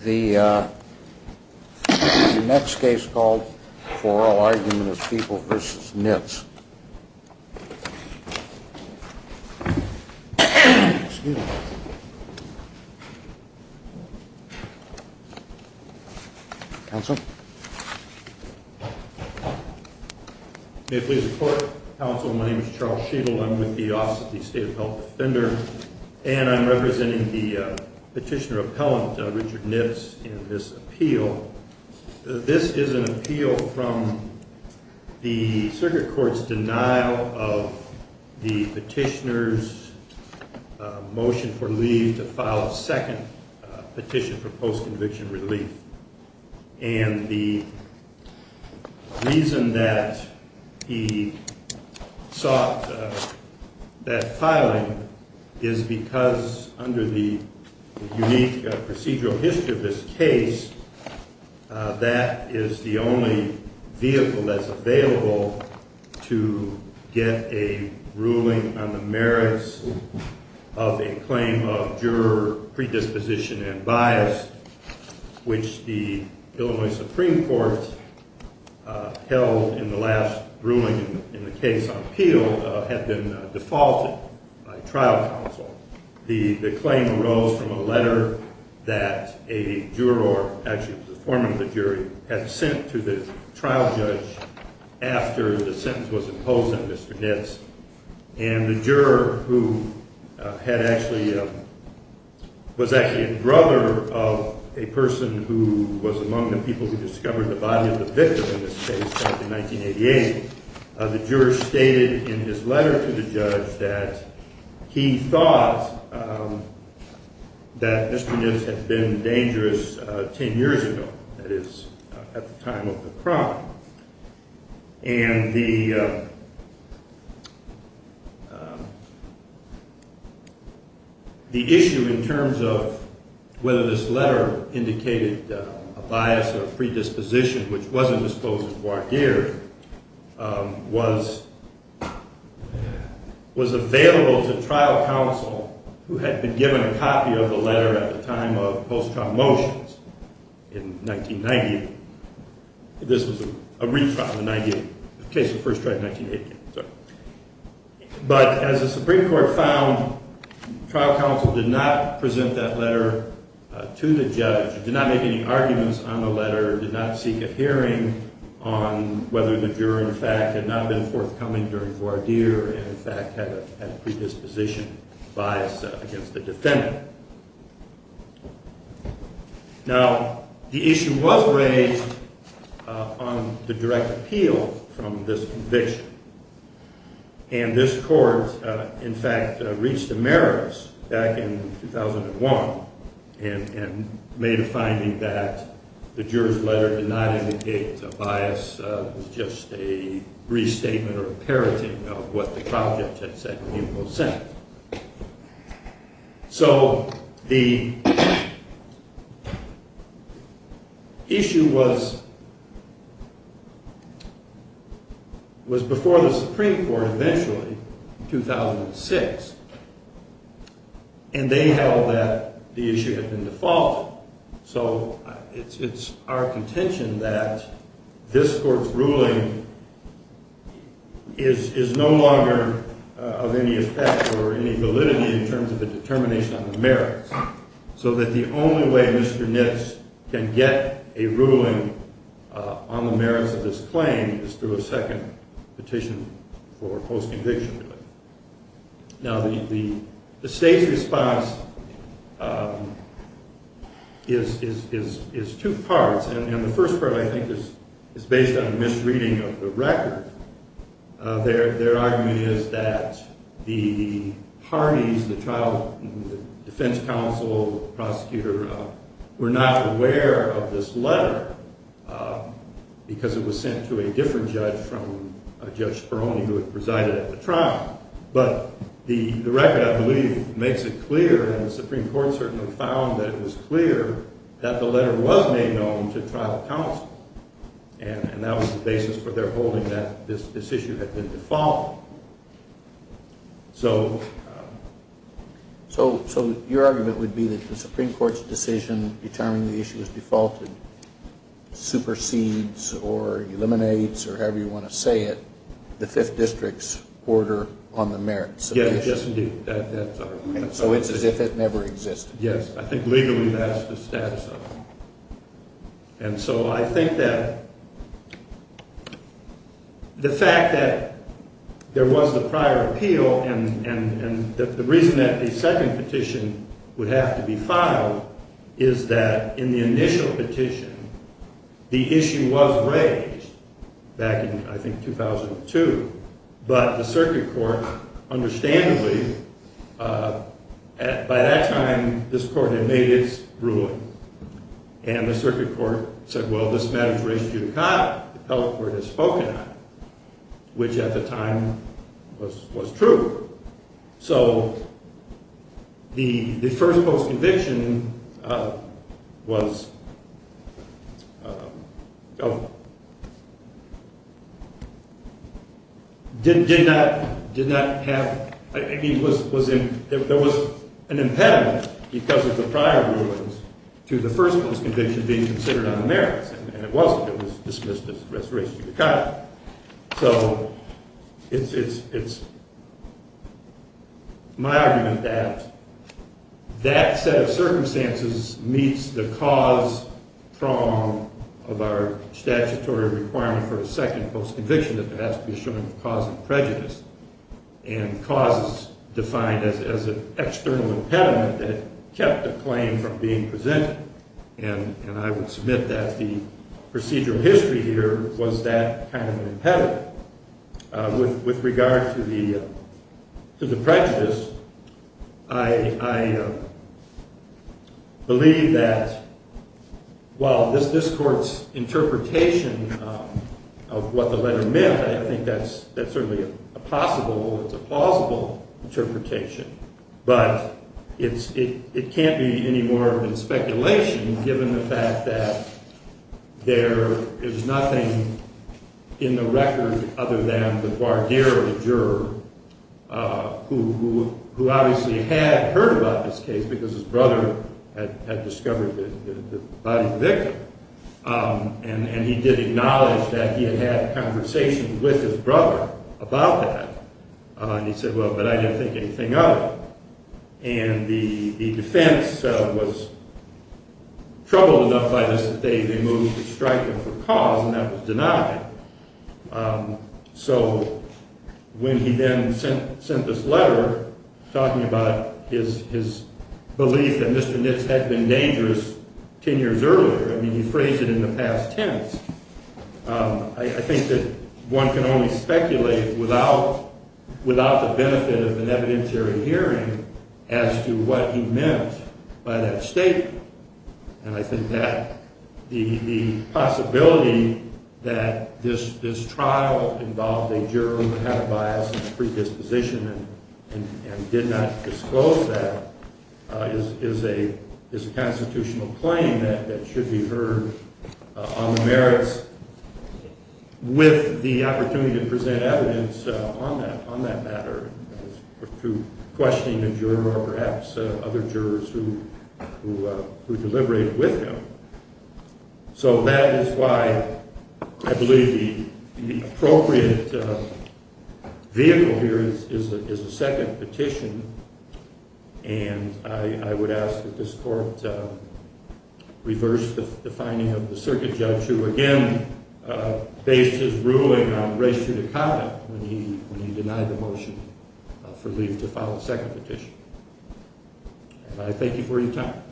This is the next case called For All Arguments, People v. Nitz. Counsel? May it please the Court. Counsel, my name is Charles Sheedle. I'm with the Office of the State of Health Defender. And I'm representing the petitioner appellant, Richard Nitz, in this appeal. This is an appeal from the circuit court's denial of the petitioner's motion for leave to file a second petition for post-conviction relief. And the reason that he sought that filing is because under the unique procedural history of this case, that is the only vehicle that's available to get a ruling on the merits of a claim of juror predisposition and bias, which the Illinois Supreme Court held in the last ruling in the case of appeal had been defaulted by trial counsel. The claim arose from a letter that a juror, actually the foreman of the jury, had sent to the trial judge after the sentence was imposed on Mr. Nitz. And the juror, who was actually a brother of a person who was among the people who discovered the body of the victim in this case back in 1988, the juror stated in his letter to the judge that he thought that Mr. Nitz had been dangerous 10 years ago, that is, at the time of the crime. And the issue in terms of whether this letter indicated a bias or predisposition which wasn't disclosed before here was available to trial counsel who had been given a copy of the letter at the time of post-trial motions in 1990. This was a retrial in the case of First Strike in 1980. But as the Supreme Court found, trial counsel did not present that letter to the judge, did not make any arguments on the letter, did not seek a hearing on whether the juror, in fact, had not been forthcoming during voir dire and, in fact, had a predisposition bias against the defendant. Now, the issue was raised on the direct appeal from this conviction. And this court, in fact, reached a meritus back in 2001 and made a finding that the juror's letter did not indicate a bias, just a restatement or a parenting of what the trial judge had said when he was sent. So the issue was before the Supreme Court eventually in 2006. And they held that the issue had been default. So it's our contention that this court's ruling is no longer of any effect or any validity in terms of a determination on the merits. So that the only way Mr. Nitz can get a ruling on the merits of this claim is through a second petition for post-conviction. Now, the state's response is two parts. And the first part, I think, is based on a misreading of the record. Their argument is that the parties, the trial defense counsel, prosecutor, were not aware of this letter because it was sent to a different judge from Judge Speroni, who had presided at the trial. But the record, I believe, makes it clear, and the Supreme Court certainly found that it was clear, that the letter was made known to trial counsel. And that was the basis for their holding that this issue had been default. So your argument would be that the Supreme Court's decision determining the issue was defaulted supersedes or eliminates, or however you want to say it, the Fifth District's order on the merits of the issue. Yes, indeed. That's our argument. So it's as if it never existed. Yes, I think legally that's the status of it. And so I think that the fact that there was the prior appeal, and the reason that the second petition would have to be filed is that in the initial petition, the issue was raised back in, I think, 2002. But the circuit court, understandably, by that time, this court had made its ruling. And the circuit court said, well, this matter is raised due to Kyle, the appellate court had spoken on it, which at the time was true. So the first post-conviction was, did not have, I mean, there was an impediment because of the prior rulings to the first post-conviction being considered on the merits. And it wasn't. It was dismissed as restoration due to Kyle. So it's my argument that that set of circumstances meets the cause prong of our statutory requirement for a second post-conviction that has to be assured of causing prejudice. And causes defined as an external impediment that kept the claim from being presented. And I would submit that the procedural history here was that kind of an impediment. With regard to the prejudice, I believe that while this court's interpretation of what the letter meant, I think that's certainly a possible, it's a plausible interpretation. But it can't be any more than speculation, given the fact that there is nothing in the record other than the Barderell juror, who obviously had heard about this case because his brother had discovered the body of the victim. And he did acknowledge that he had had conversations with his brother about that. And he said, well, but I didn't think anything of it. And the defense was troubled enough by this that they moved to strike him for cause, and that was denied. So when he then sent this letter talking about his belief that Mr. Nitz had been dangerous ten years earlier, I mean, he phrased it in the past tense, I think that one can only speculate without the benefit of an evidentiary hearing as to what he meant by that statement. And I think that the possibility that this trial involved a juror who had a bias and predisposition and did not disclose that is a constitutional claim that should be heard on the merits with the opportunity to present evidence on that matter. Or through questioning a juror or perhaps other jurors who deliberated with him. So that is why I believe the appropriate vehicle here is a second petition. And I would ask that this court reverse the finding of the circuit judge, who again based his ruling on race-judicata when he denied the motion for Lief to file a second petition. And I thank you for your time.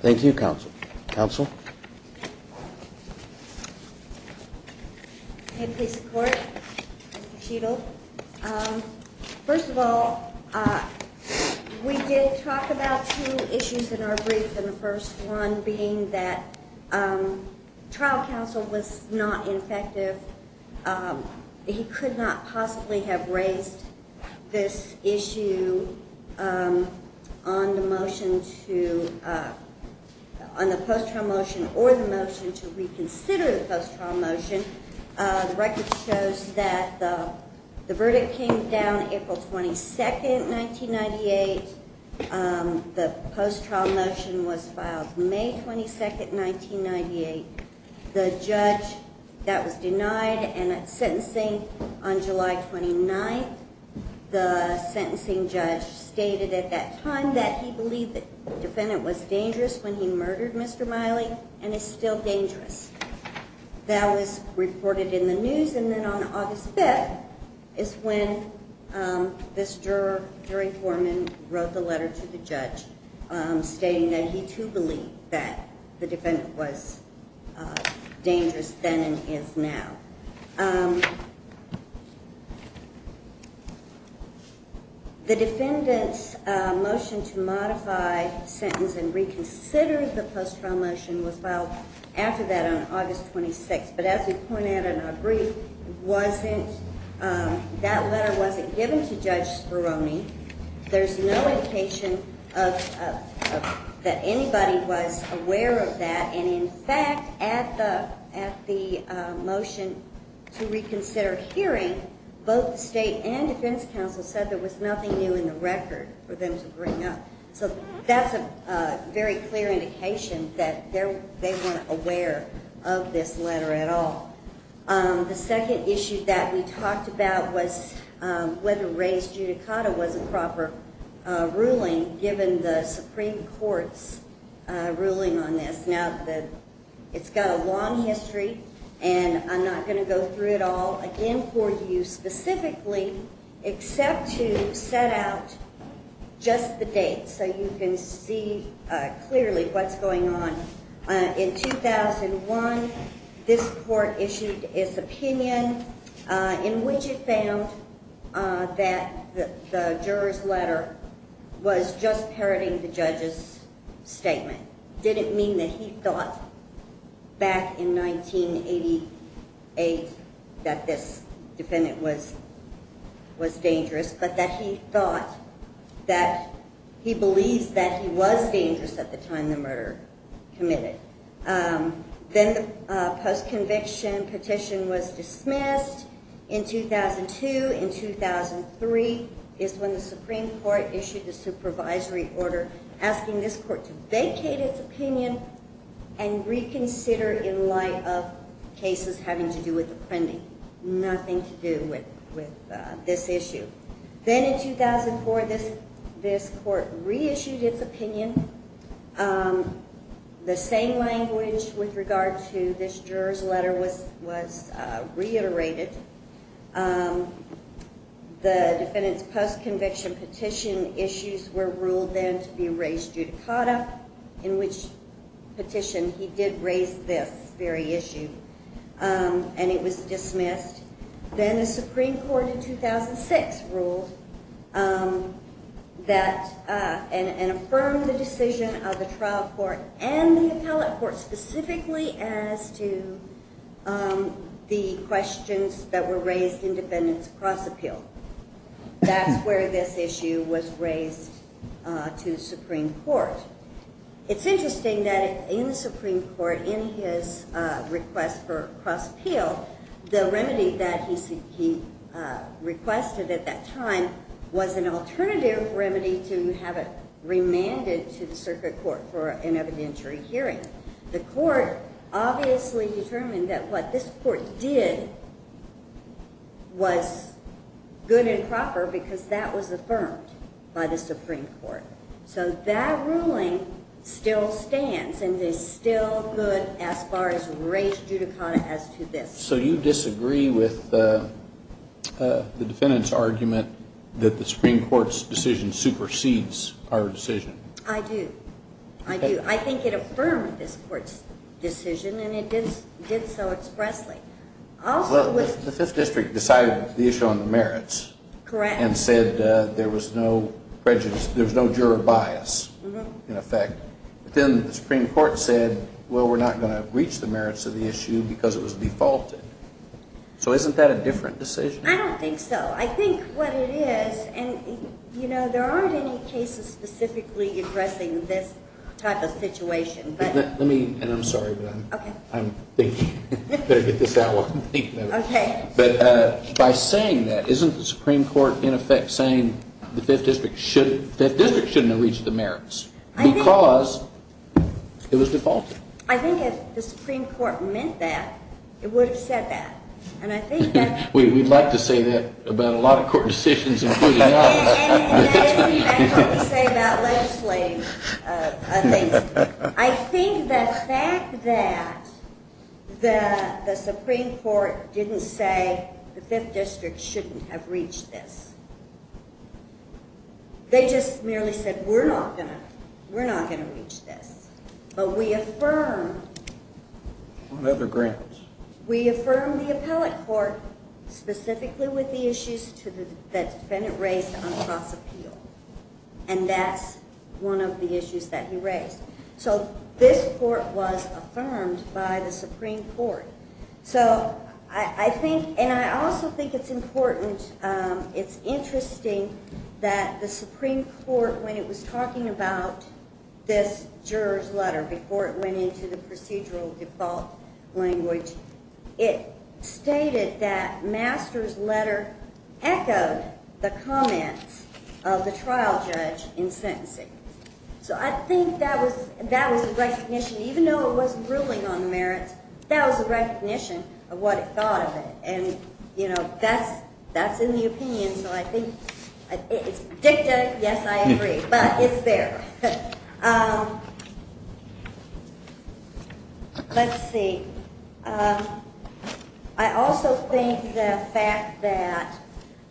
Thank you, counsel. Counsel? Can I please report? First of all, we did talk about two issues in our brief. And the first one being that trial counsel was not effective. He could not possibly have raised this issue on the motion to, on the post-trial motion or the motion to reconsider the post-trial motion. The record shows that the verdict came down April 22nd, 1998. The post-trial motion was filed May 22nd, 1998. The judge that was denied and sentencing on July 29th, the sentencing judge stated at that time that he believed the defendant was dangerous when he murdered Mr. Miley and is still dangerous. That was reported in the news. And then on August 5th is when this jury foreman wrote the letter to the judge stating that he too believed that the defendant was dangerous then and is now. The defendant's motion to modify, sentence, and reconsider the post-trial motion was filed after that on August 26th. But as we pointed out in our brief, that letter wasn't given to Judge Speroni. There's no indication that anybody was aware of that. And in fact, at the motion to reconsider hearing, both the state and defense counsel said there was nothing new in the record for them to bring up. So that's a very clear indication that they weren't aware of this letter at all. The second issue that we talked about was whether Ray's judicata was a proper ruling given the Supreme Court's ruling on this. Now, it's got a long history, and I'm not going to go through it all again for you specifically except to set out just the dates so you can see clearly what's going on. In 2001, this court issued its opinion in which it found that the juror's letter was just parroting the judge's statement. That didn't mean that he thought back in 1988 that this defendant was dangerous, but that he thought that he believes that he was dangerous at the time the murder committed. Then the post-conviction petition was dismissed in 2002. In 2003 is when the Supreme Court issued a supervisory order asking this court to vacate its opinion and reconsider in light of cases having to do with the pending, nothing to do with this issue. Then in 2004, this court reissued its opinion. The same language with regard to this juror's letter was reiterated. The defendant's post-conviction petition issues were ruled then to be Ray's judicata, in which petition he did raise this very issue, and it was dismissed. Then the Supreme Court in 2006 ruled and affirmed the decision of the trial court and the appellate court specifically as to the questions that were raised in defendants' cross appeal. That's where this issue was raised to the Supreme Court. It's interesting that in the Supreme Court, in his request for cross appeal, the remedy that he requested at that time was an alternative remedy to have it remanded to the circuit court for an evidentiary hearing. The court obviously determined that what this court did was good and proper because that was affirmed by the Supreme Court. So that ruling still stands and is still good as far as Ray's judicata as to this. So you disagree with the defendant's argument that the Supreme Court's decision supersedes our decision? I do. I do. I think it affirmed this court's decision and it did so expressly. The Fifth District decided the issue on the merits and said there was no juror bias in effect. But then the Supreme Court said, well, we're not going to breach the merits of the issue because it was defaulted. So isn't that a different decision? I don't think so. I think what it is, and there aren't any cases specifically addressing this type of situation. Let me, and I'm sorry, but I'm thinking, better get this out while I'm thinking of it. Okay. But by saying that, isn't the Supreme Court in effect saying the Fifth District shouldn't have breached the merits because it was defaulted? I think if the Supreme Court meant that, it would have said that. And I think that's I don't have to say that about a lot of court decisions, including ours. I don't have to say that about legislating things. I think the fact that the Supreme Court didn't say the Fifth District shouldn't have breached this. They just merely said, we're not going to. We're not going to breach this. But we affirmed What other grounds? We affirmed the appellate court specifically with the issues that the defendant raised on cross-appeal. And that's one of the issues that he raised. So this court was affirmed by the Supreme Court. So I think, and I also think it's important, it's interesting that the Supreme Court, when it was talking about this juror's letter, before it went into the procedural default language, it stated that Master's letter echoed the comments of the trial judge in sentencing. So I think that was a recognition, even though it wasn't ruling on the merits, that was a recognition of what it thought of it. And that's in the opinion. So I think it's dicta, yes, I agree. But it's there. Let's see. I also think the fact that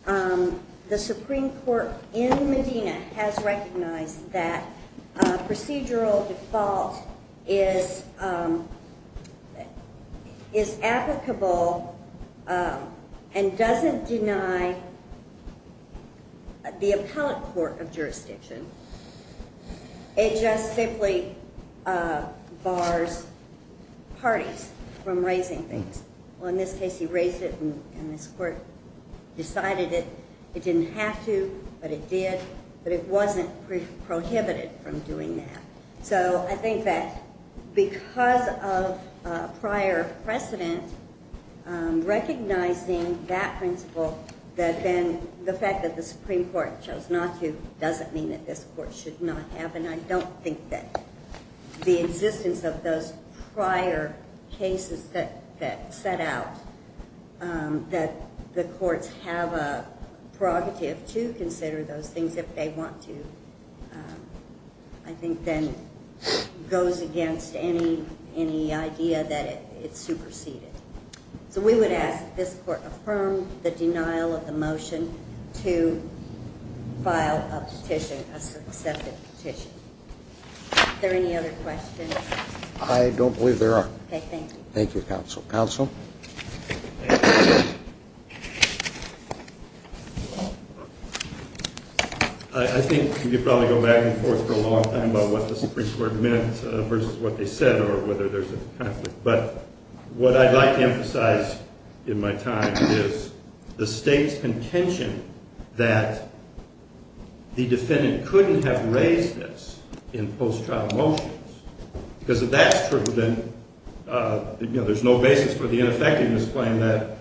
the Supreme Court in Medina has recognized that procedural default is applicable and doesn't deny the appellate court of jurisdiction. It just simply bars parties from raising things. Well, in this case, he raised it, and this court decided it didn't have to, but it did, but it wasn't prohibited from doing that. So I think that because of prior precedent, recognizing that principle, that then the fact that the Supreme Court chose not to doesn't mean that this court should not have. And I don't think that the existence of those prior cases that set out that the courts have a prerogative to consider those things if they want to, I think then goes against any idea that it superseded. So we would ask that this court affirm the denial of the motion to file a petition, a successive petition. Are there any other questions? I don't believe there are. Okay, thank you. Thank you, counsel. Counsel? I think we could probably go back and forth for a long time about what the Supreme Court meant versus what they said or whether there's a conflict, but what I'd like to emphasize in my time is the state's contention that the defendant couldn't have raised this in post-trial motions. Because if that's true, then there's no basis for the ineffectiveness claim that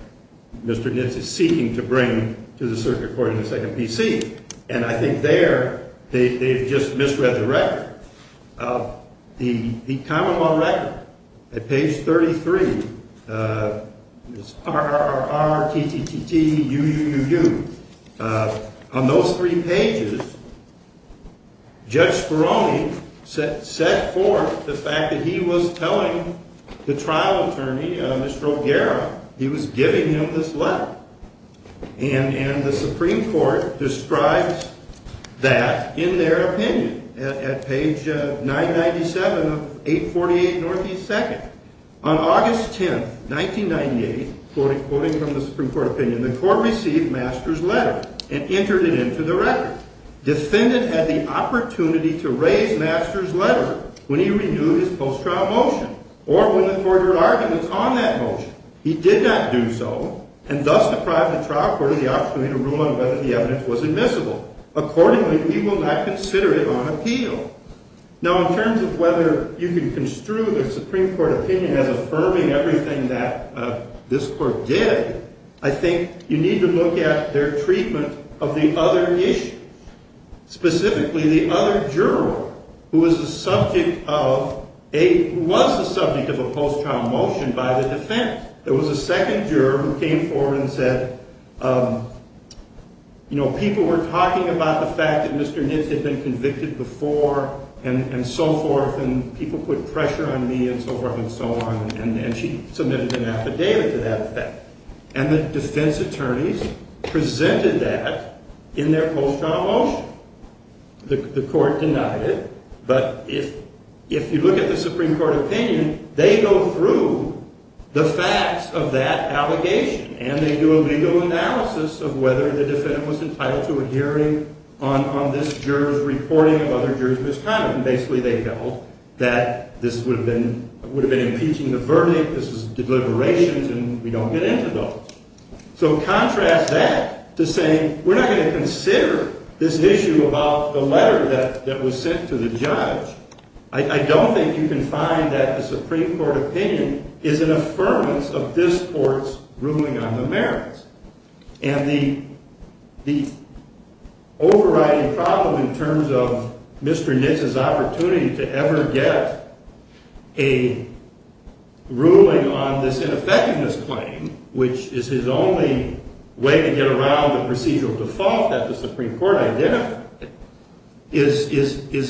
Mr. Nitz is seeking to bring to the circuit court in the second PC. And I think there they've just misread the record. The common law record at page 33, RRRRTTTTUUUU, on those three pages, Judge Speroni set forth the fact that he was telling the trial attorney, Mr. O'Gara, he was giving him this letter. And the Supreme Court describes that in their opinion at page 997 of 848 Northeast 2nd. On August 10, 1998, quoting from the Supreme Court opinion, the court received Master's letter and entered it into the record. Defendant had the opportunity to raise Master's letter when he renewed his post-trial motion or when the court argued on that motion. He did not do so and thus deprived the trial court of the opportunity to rule on whether the evidence was admissible. Accordingly, we will not consider it on appeal. Now, in terms of whether you can construe the Supreme Court opinion as affirming everything that this court did, I think you need to look at their treatment of the other issue, specifically the other juror who was the subject of a post-trial motion by the defense. There was a second juror who came forward and said, you know, people were talking about the fact that Mr. Nitz had been convicted before and so forth, and people put pressure on me and so forth and so on, and she submitted an affidavit to that effect. And the defense attorneys presented that in their post-trial motion. The court denied it, but if you look at the Supreme Court opinion, they go through the facts of that allegation and they do a legal analysis of whether the defendant was entitled to a hearing on this juror's reporting of other jurors' misconduct. And basically, they felt that this would have been impeaching the verdict, this is deliberations, and we don't get into those. So contrast that to saying we're not going to consider this issue about the letter that was sent to the judge. I don't think you can find that the Supreme Court opinion is an affirmance of this court's ruling on the merits. And the overriding problem in terms of Mr. Nitz's opportunity to ever get a ruling on this ineffectiveness claim, which is his only way to get around the procedural default that the Supreme Court identified, is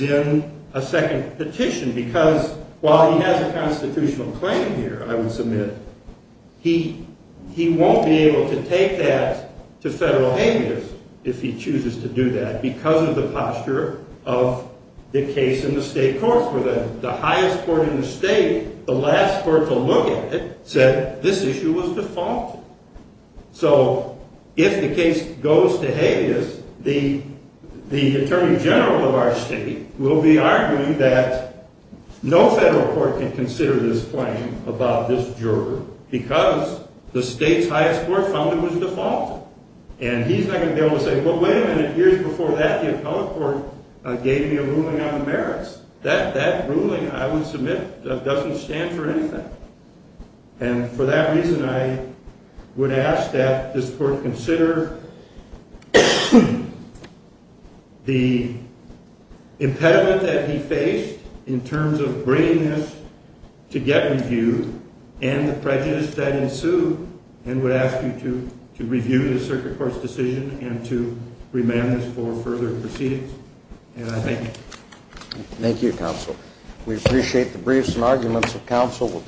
in effect. And that's the second petition, because while he has a constitutional claim here, I would submit, he won't be able to take that to federal habeas if he chooses to do that because of the posture of the case in the state courts, where the highest court in the state, the last court to look at it, said this issue was defaulted. So if the case goes to habeas, the attorney general of our state will be arguing that no federal court can consider this claim about this juror because the state's highest court found it was defaulted. And he's not going to be able to say, well, wait a minute, years before that, the appellate court gave me a ruling on the merits. That ruling, I would submit, doesn't stand for anything. And for that reason, I would ask that this court consider the impediment that he faced in terms of bringing this to get reviewed and the prejudice that ensued, and would ask you to review the circuit court's decision and to remand this for further proceedings. Thank you. Thank you, counsel. We appreciate the briefs and arguments of counsel.